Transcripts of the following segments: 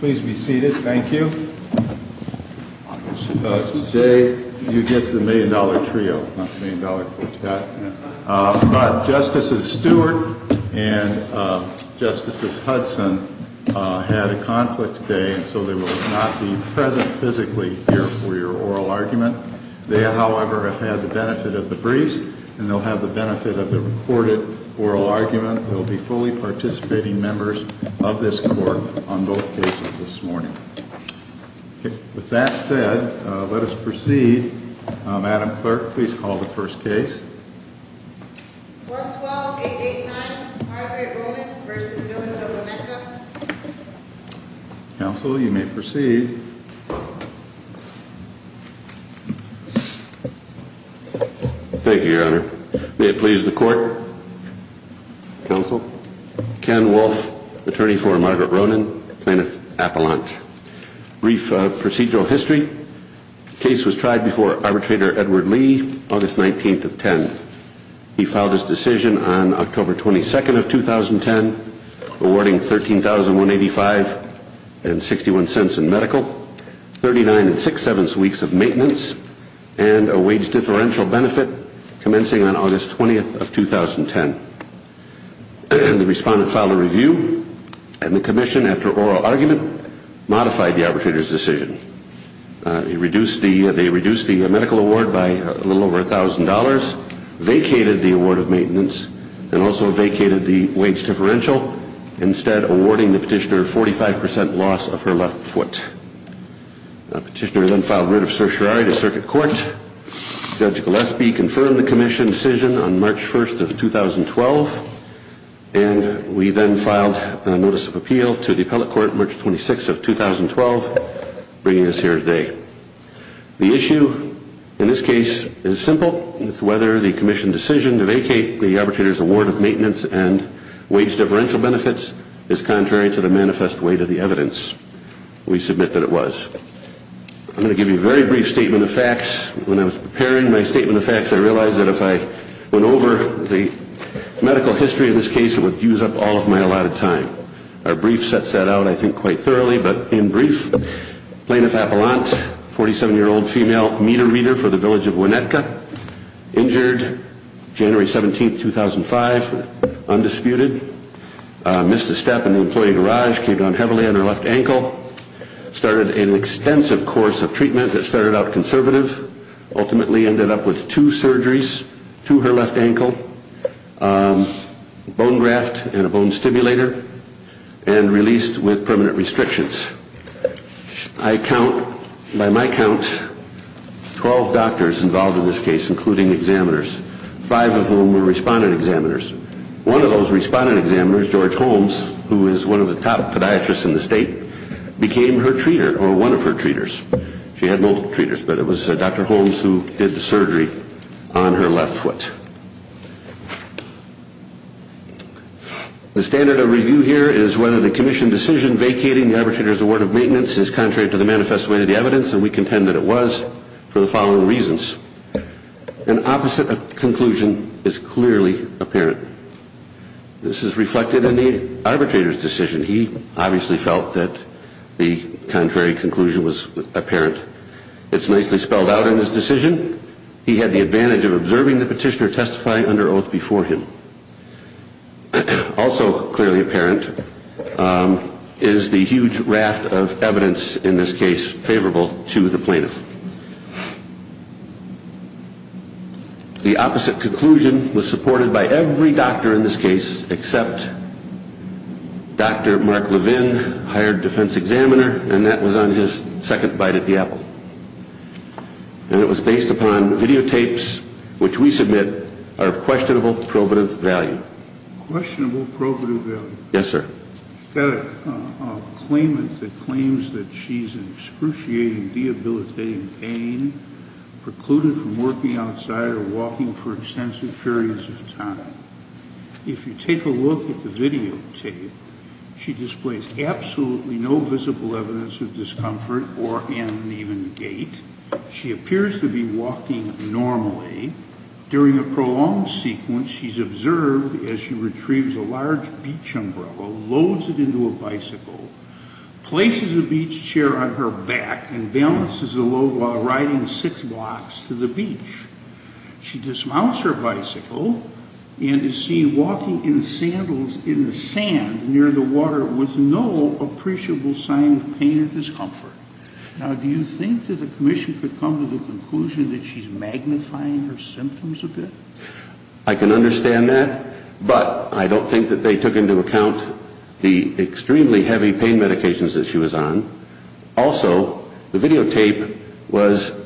Please be seated. Thank you. Today, you get the million-dollar trio, not the million-dollar quartet. But Justices Stewart and Justices Hudson had a conflict today and so they will not be present physically here for your oral argument. They, however, have had the benefit of the briefs and they'll have the benefit of the recorded oral argument. We'll be fully participating members of this Court on both cases this morning. With that said, let us proceed. Madam Clerk, please call the first case. 112-889 Margaret Roman v. Billings of Weneca. Counsel, you may proceed. Thank you, Your Honor. May it please the Court. Counsel, Ken Wolf, attorney for Margaret Roman, plaintiff appellant. Brief procedural history. Case was tried before arbitrator Edward Lee, August 19th of 10. He filed his decision on October 22nd of 2010, awarding $13,185.61 in medical, 39.67 weeks of maintenance, and a wage differential benefit commencing on August 20th of 2010. The respondent filed a review and the commission, after oral argument, modified the arbitrator's decision. They reduced the medical award by a little over $1,000, vacated the award of maintenance, and also vacated the wage differential, instead awarding the petitioner 45% loss of her left foot. The petitioner then filed writ of certiorari to circuit court. Judge Gillespie confirmed the commission's decision on March 1st of 2012, and we then filed a notice of appeal to the appellate court March 26th of 2012, bringing us here today. The issue in this case is simple. It's whether the commission decision to vacate the arbitrator's award of maintenance and wage differential benefits is contrary to the manifest weight of the evidence. We submit that it was. I'm going to give you a very brief statement of facts. When I was preparing my statement of facts, I realized that if I went over the medical history of this case, it would use up all of my allotted time. Our brief sets that out, I think, quite thoroughly, but in brief, Plaintiff Appellant, 47-year-old female meter reader for the village of Winnetka, injured January 17th, 2005, undisputed, missed a step in the employee garage, came down heavily on her left ankle, started an extensive course of treatment that started out conservative, ultimately ended up with two surgeries to her left ankle, bone graft and a bone stimulator, and released with permanent restrictions. I count, by my count, 12 doctors involved in this case, including examiners, five of whom were respondent examiners. One of those respondent examiners, George Holmes, who is one of the top podiatrists in the state, became her treater, or one of her treaters. She had multiple treaters, but it was Dr. Holmes who did the surgery on her left foot. The standard of review here is whether the Commission decision vacating the arbitrator's award of maintenance is contrary to the manifest weight of the evidence, and we contend that it was for the following reasons. An opposite conclusion is clearly apparent. This is reflected in the arbitrator's decision. He obviously felt that the contrary conclusion was apparent. It's nicely spelled out in his decision. He had the advantage of observing the petitioner testify under oath before him. Also clearly apparent is the huge raft of evidence in this case favorable to the plaintiff. The opposite conclusion was supported by every doctor in this case, except Dr. Mark Levin, hired defense examiner, and that was on his second bite at the apple. And it was based upon videotapes which we submit are of questionable probative value. Questionable probative value? Yes, sir. You've got a claimant that claims that she's in excruciating, debilitating pain, precluded from working outside or walking for extensive periods of time. If you take a look at the videotape, she displays absolutely no visible evidence of discomfort or an even gait. She appears to be walking normally. During the prolonged sequence, she's observed as she retrieves a large beach umbrella, loads it into a bicycle, places a beach chair on her back, and balances the load while riding six blocks to the beach. She dismounts her bicycle and is seen walking in sandals in the sand near the water with no appreciable sign of pain or discomfort. Now, do you think that the commission could come to the conclusion that she's magnifying her symptoms a bit? I can understand that, but I don't think that they took into account the extremely heavy pain medications that she was on. Also, the videotape was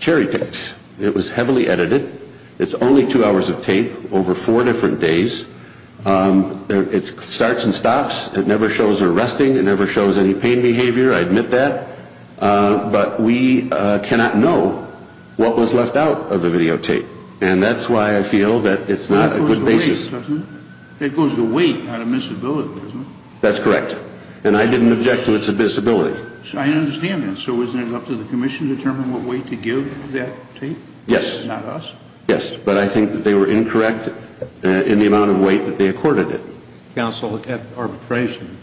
cherry-picked. It was heavily edited. It's only two hours of tape over four different days. It starts and stops. It never shows her resting. It never shows any pain behavior. I admit that. But we cannot know what was left out of the videotape, and that's why I feel that it's not a good basis. It goes to wait out of miscibility, doesn't it? That's correct. And I didn't object to its abysmability. I understand that. So isn't it up to the commission to determine what weight to give that tape? Yes. Not us? Yes, but I think that they were incorrect in the amount of weight that they accorded it. Counsel, at arbitration,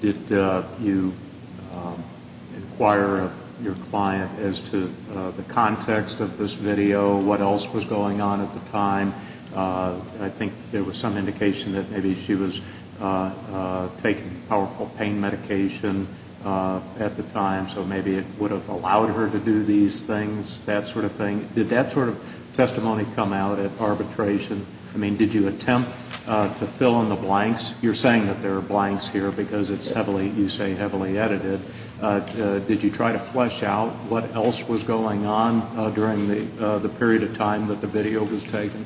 did you inquire of your client as to the context of this video, what else was going on at the time? I think there was some indication that maybe she was taking powerful pain medication at the time, so maybe it would have allowed her to do these things, that sort of thing. Did that sort of testimony come out at arbitration? I mean, did you attempt to fill in the blanks? You're saying that there are blanks here because it's heavily, you say, heavily edited. Did you try to flesh out what else was going on during the period of time that the video was taken?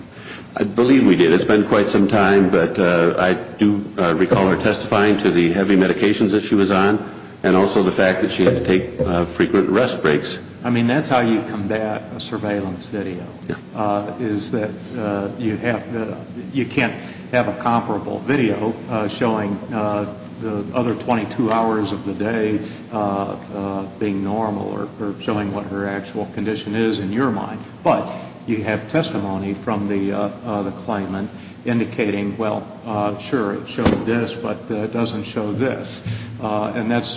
I believe we did. It's been quite some time, but I do recall her testifying to the heavy medications that she was on and also the fact that she had to take frequent rest breaks. I mean, that's how you combat a surveillance video, is that you can't have a comparable video showing the other 22 hours of the day being normal or showing what her actual condition is in your mind. But you have testimony from the claimant indicating, well, sure, it showed this, but it doesn't show this. And that's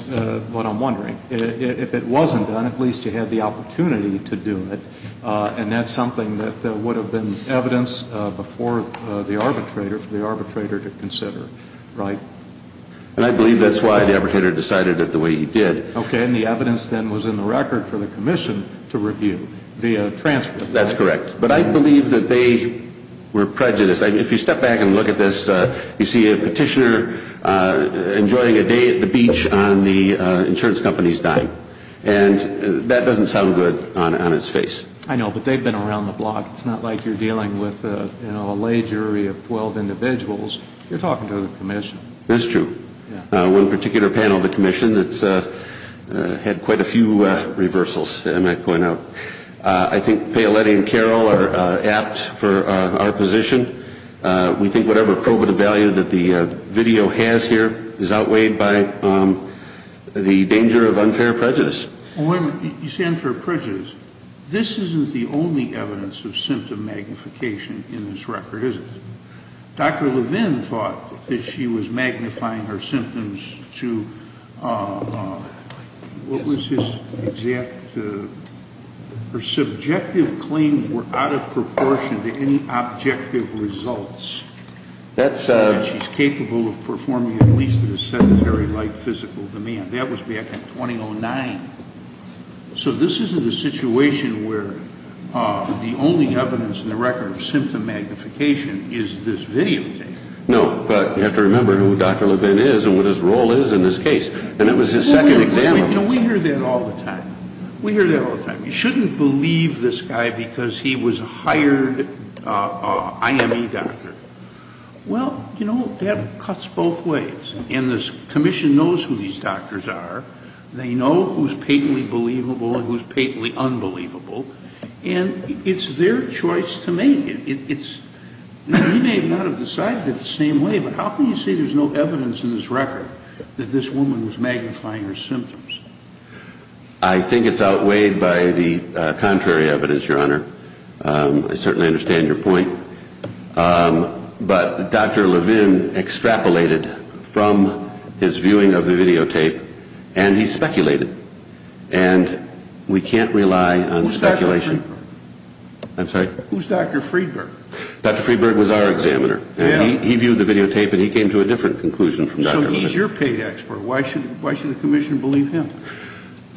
what I'm wondering. If it wasn't done, at least you had the opportunity to do it, and that's something that would have been evidence before the arbitrator for the arbitrator to consider, right? And I believe that's why the arbitrator decided it the way he did. Okay. And the evidence then was in the record for the commission to review via transcript. That's correct. But I believe that they were prejudiced. If you step back and look at this, you see a petitioner enjoying a day at the beach on the insurance company's dime. And that doesn't sound good on its face. I know, but they've been around the block. It's not like you're dealing with a lay jury of 12 individuals. You're talking to the commission. That's true. One particular panel of the commission had quite a few reversals, I might point out. I think Paoletti and Carroll are apt for our position. We think whatever probative value that the video has here is outweighed by the danger of unfair prejudice. When you say unfair prejudice, this isn't the only evidence of symptom magnification in this record, is it? Dr. Levin thought that she was magnifying her symptoms to what was his exact? Her subjective claims were out of proportion to any objective results. She's capable of performing at least at a sedentary-like physical demand. That was back in 2009. So this isn't a situation where the only evidence in the record of symptom magnification is this video tape. No, but you have to remember who Dr. Levin is and what his role is in this case. And that was his second example. You know, we hear that all the time. We hear that all the time. You shouldn't believe this guy because he was a hired IME doctor. Well, you know, that cuts both ways. And the commission knows who these doctors are. They know who's patently believable and who's patently unbelievable. And it's their choice to make it. He may not have decided it the same way, but how can you say there's no evidence in this record that this woman was magnifying her symptoms? I think it's outweighed by the contrary evidence, Your Honor. I certainly understand your point. But Dr. Levin extrapolated from his viewing of the video tape, and he speculated. And we can't rely on speculation. Who's Dr. Friedberg? I'm sorry? Who's Dr. Friedberg? Dr. Friedberg was our examiner. He viewed the video tape, and he came to a different conclusion from Dr. Friedberg. So he's your paid expert. Why should the commission believe him?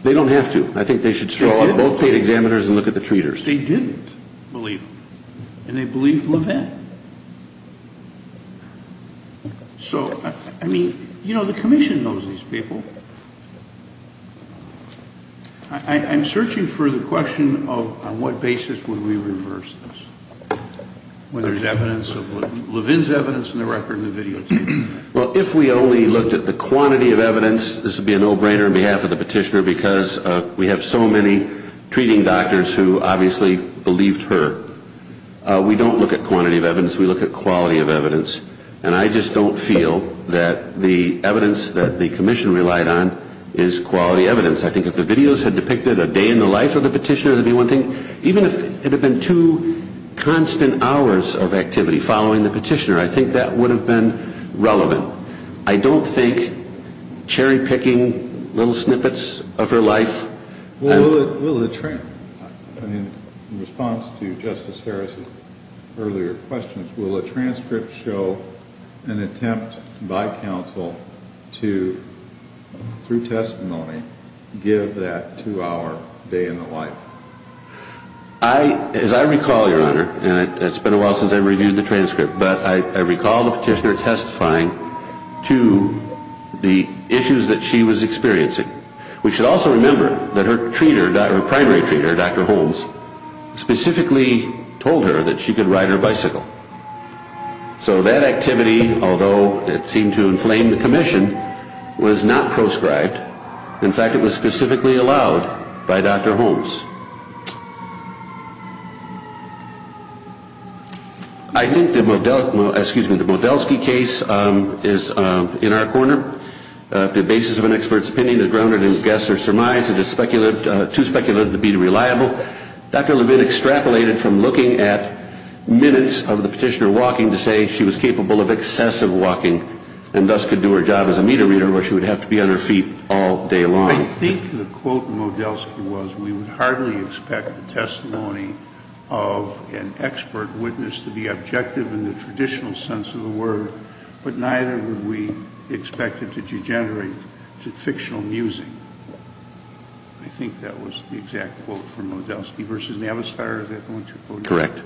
They don't have to. I think they should throw on both paid examiners and look at the treaters. They didn't believe him, and they believed Levin. So, I mean, you know, the commission knows these people. I'm searching for the question of on what basis would we reverse this when there's evidence of Levin's evidence in the record and the video tape? Well, if we only looked at the quantity of evidence, this would be a no-brainer on behalf of the petitioner because we have so many treating doctors who obviously believed her. We don't look at quantity of evidence. We look at quality of evidence. And I just don't feel that the evidence that the commission relied on is quality evidence. I think if the videos had depicted a day in the life of the petitioner, that would be one thing. Even if it had been two constant hours of activity following the petitioner, I think that would have been relevant. I don't think cherry-picking little snippets of her life. In response to Justice Harris' earlier questions, will a transcript show an attempt by counsel to, through testimony, give that two-hour day in the life? As I recall, Your Honor, and it's been a while since I reviewed the transcript, but I recall the petitioner testifying to the issues that she was experiencing. We should also remember that her primary treater, Dr. Holmes, specifically told her that she could ride her bicycle. So that activity, although it seemed to inflame the commission, was not proscribed. In fact, it was specifically allowed by Dr. Holmes. I think the Modelsky case is in our corner. If the basis of an expert's opinion is grounded in guess or surmise, it is too speculative to be reliable. Dr. Levin extrapolated from looking at minutes of the petitioner walking to say she was capable of excessive walking and thus could do her job as a meter reader where she would have to be on her feet all day long. I think the quote in Modelsky was, we would hardly expect the testimony of an expert witness to be objective in the traditional sense of the word, but neither would we expect it to degenerate to fictional musing. I think that was the exact quote from Modelsky versus Navistar. Correct.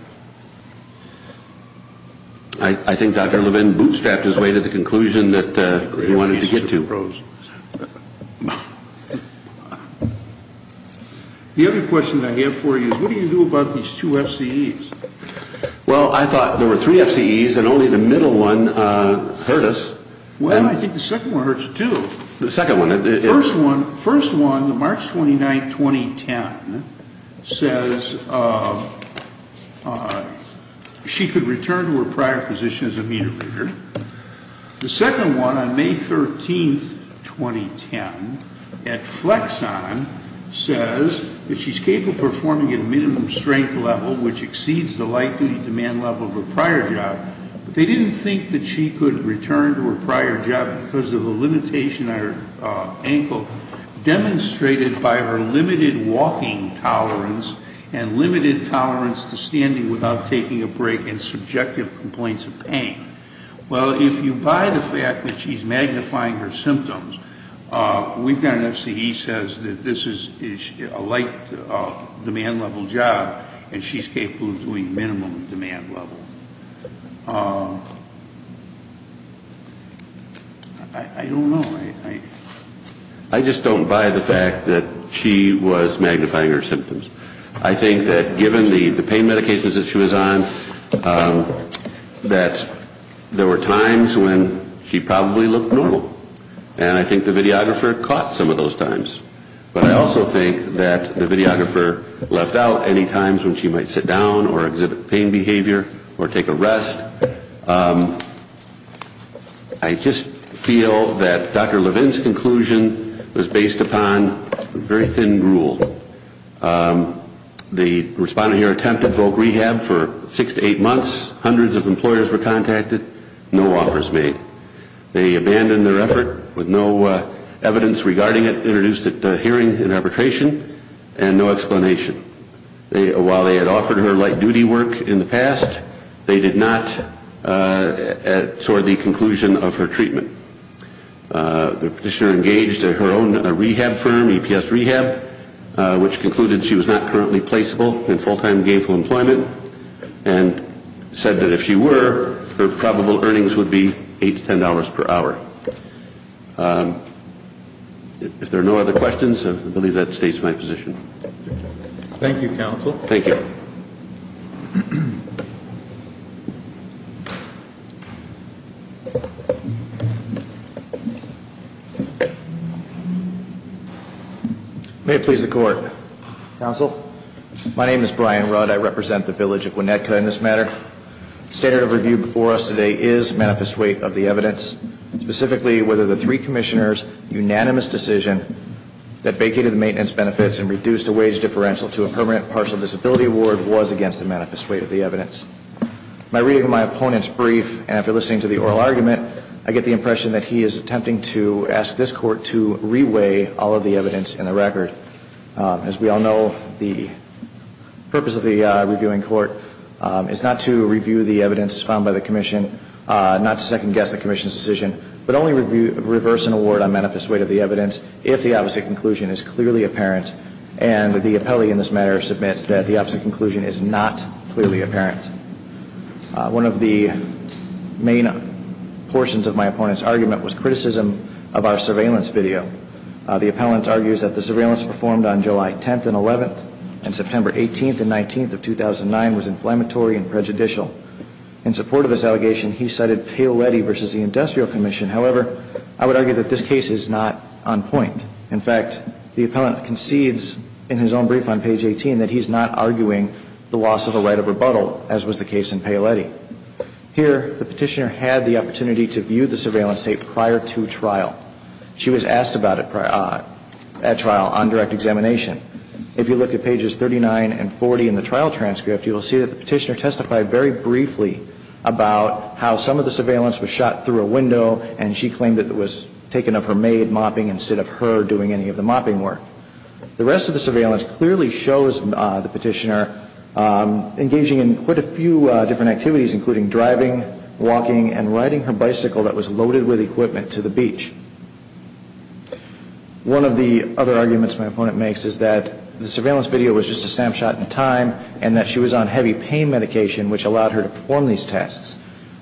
I think Dr. Levin bootstrapped his way to the conclusion that he wanted to get to. The other question I have for you is, what do you do about these two FCEs? Well, I thought there were three FCEs and only the middle one hurt us. Well, I think the second one hurts too. The second one. The first one, March 29, 2010, says she could return to her prior position as a meter reader. The second one, on May 13, 2010, at Flexon, says that she is capable of performing at a minimum strength level, which exceeds the light-duty demand level of her prior job. They didn't think that she could return to her prior job because of a limitation on her ankle demonstrated by her limited walking tolerance and limited tolerance to standing without taking a break and subjective complaints of pain. Well, if you buy the fact that she's magnifying her symptoms, we've got an FCE that says that this is a light demand level job and she's capable of doing minimum demand level. I don't know. I just don't buy the fact that she was magnifying her symptoms. I think that given the pain medications that she was on, that there were times when she probably looked normal. And I think the videographer caught some of those times. But I also think that the videographer left out any times when she might sit down or exhibit pain behavior or take a rest. I just feel that Dr. Levin's conclusion was based upon very thin rule. The respondent here attempted voc rehab for six to eight months. Hundreds of employers were contacted. No offers made. They abandoned their effort with no evidence regarding it introduced at hearing and arbitration and no explanation. While they had offered her light duty work in the past, they did not toward the conclusion of her treatment. The petitioner engaged her own rehab firm, EPS Rehab, which concluded she was not currently placeable in full-time gainful employment and said that if she were, her probable earnings would be $8 to $10 per hour. If there are no other questions, I believe that states my position. Thank you, Counsel. Thank you. May it please the Court. Counsel. My name is Brian Rudd. I represent the village of Gwinnettka in this matter. The standard of review before us today is manifest weight of the evidence, specifically whether the three commissioners' unanimous decision that vacated the maintenance benefits and reduced the wage differential to a permanent partial disability award was against the manifest weight of the evidence. My reading of my opponent's brief and after listening to the oral argument, I get the impression that he is attempting to ask this Court to reweigh all of the evidence in the record. As we all know, the purpose of the reviewing court is not to review the evidence found by the commission, not to second-guess the commission's decision, but only reverse an award on manifest weight of the evidence if the opposite conclusion is clearly apparent and the appellee in this matter submits that the opposite conclusion is not clearly apparent. One of the main portions of my opponent's argument was criticism of our surveillance video. The appellant argues that the surveillance performed on July 10th and 11th and September 18th and 19th of 2009 was inflammatory and prejudicial. In support of this allegation, he cited Paoletti versus the Industrial Commission. However, I would argue that this case is not on point. In fact, the appellant concedes in his own brief on page 18 that he's not arguing the loss of the right of rebuttal, as was the case in Paoletti. Here, the petitioner had the opportunity to view the surveillance tape prior to trial. She was asked about it at trial on direct examination. If you look at pages 39 and 40 in the trial transcript, you will see that the petitioner testified very briefly about how some of the surveillance was shot through a window and she claimed that it was taken of her maid mopping instead of her doing any of the mopping work. The rest of the surveillance clearly shows the petitioner engaging in quite a few different activities, including driving, walking, and riding her bicycle that was loaded with equipment to the beach. One of the other arguments my opponent makes is that the surveillance video was just a snapshot in time and that she was on heavy pain medication, which allowed her to perform these tasks.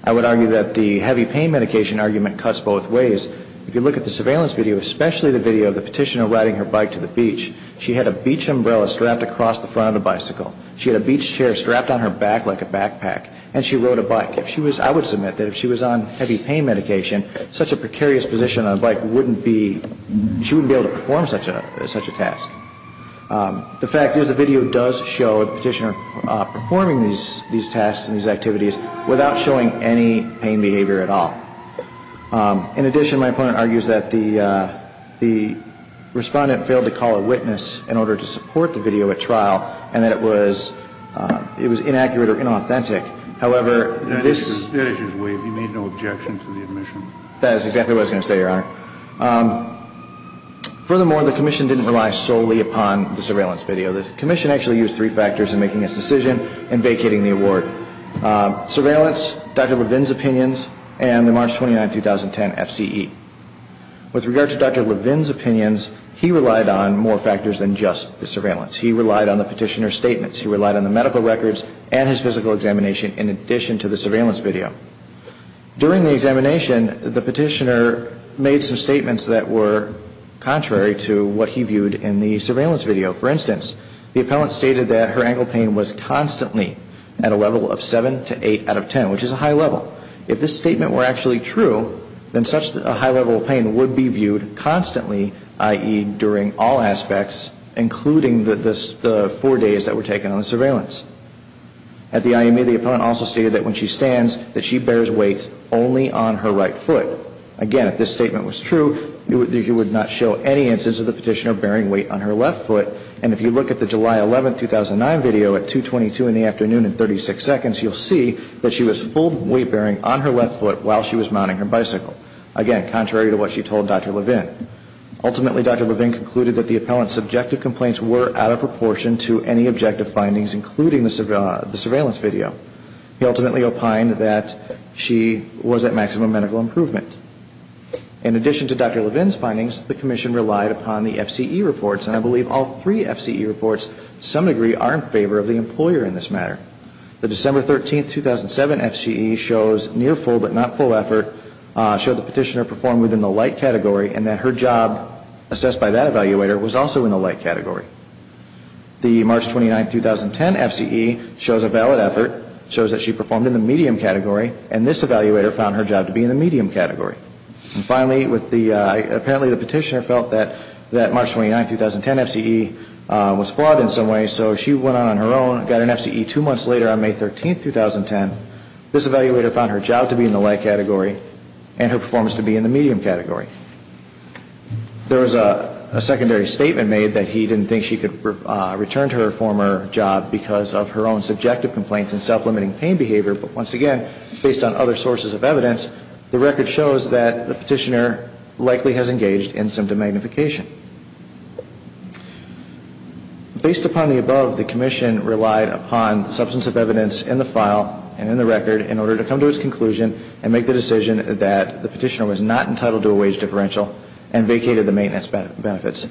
I would argue that the heavy pain medication argument cuts both ways. If you look at the surveillance video, especially the video of the petitioner riding her bike to the beach, she had a beach umbrella strapped across the front of the bicycle. She had a beach chair strapped on her back like a backpack. And she rode a bike. I would submit that if she was on heavy pain medication, such a precarious position on a bike, she wouldn't be able to perform such a task. The fact is the video does show the petitioner performing these tasks and these activities without showing any pain behavior at all. In addition, my opponent argues that the respondent failed to call a witness in order to support the video at trial and that it was inaccurate or inauthentic. However, this — That issue is waived. He made no objection to the admission. That is exactly what I was going to say, Your Honor. Furthermore, the Commission didn't rely solely upon the surveillance video. The Commission actually used three factors in making its decision and vacating the award. Surveillance, Dr. Levin's opinions, and the March 29, 2010, FCE. With regard to Dr. Levin's opinions, he relied on more factors than just the surveillance. He relied on the petitioner's statements. He relied on the medical records and his physical examination in addition to the surveillance video. During the examination, the petitioner made some statements that were contrary to what he viewed in the surveillance video. For instance, the appellant stated that her ankle pain was constantly at a level of 7 to 8 out of 10, which is a high level. If this statement were actually true, then such a high level of pain would be viewed constantly, i.e., during all aspects, including the four days that were taken on the surveillance. At the IME, the appellant also stated that when she stands, that she bears weight only on her right foot. Again, if this statement was true, you would not show any instance of the petitioner bearing weight on her left foot. And if you look at the July 11, 2009 video at 2.22 in the afternoon and 36 seconds, you'll see that she was full weight bearing on her left foot while she was mounting her bicycle. Again, contrary to what she told Dr. Levin. Ultimately, Dr. Levin concluded that the appellant's subjective complaints were out of proportion to any objective findings, including the surveillance video. He ultimately opined that she was at maximum medical improvement. In addition to Dr. Levin's findings, the commission relied upon the FCE reports, and I believe all three FCE reports to some degree are in favor of the employer in this matter. The December 13, 2007 FCE shows near full but not full effort, showed the petitioner performed within the light category, and that her job assessed by that evaluator was also in the light category. The March 29, 2010 FCE shows a valid effort, shows that she performed in the medium category, and this evaluator found her job to be in the medium category. And finally, apparently the petitioner felt that March 29, 2010 FCE was flawed in some way, and so she went out on her own, got an FCE two months later on May 13, 2010. This evaluator found her job to be in the light category and her performance to be in the medium category. There was a secondary statement made that he didn't think she could return to her former job because of her own subjective complaints and self-limiting pain behavior, but once again, based on other sources of evidence, the record shows that the petitioner likely has engaged in symptom magnification. Based upon the above, the commission relied upon substantive evidence in the file and in the record in order to come to its conclusion and make the decision that the petitioner was not entitled to a wage differential and vacated the maintenance benefits.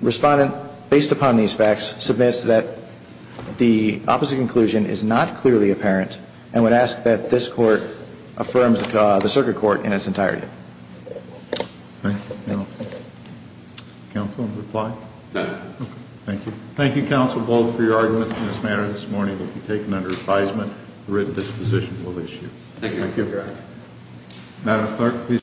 Respondent, based upon these facts, submits that the opposite conclusion is not clearly apparent and would ask that this court affirms the circuit court in its entirety. Thank you, counsel. Counsel, reply? No. Okay, thank you. Thank you, counsel, both, for your arguments in this manner this morning. It will be taken under advisement. The written disposition will issue. Thank you. Thank you, Your Honor. Madam Clerk, please.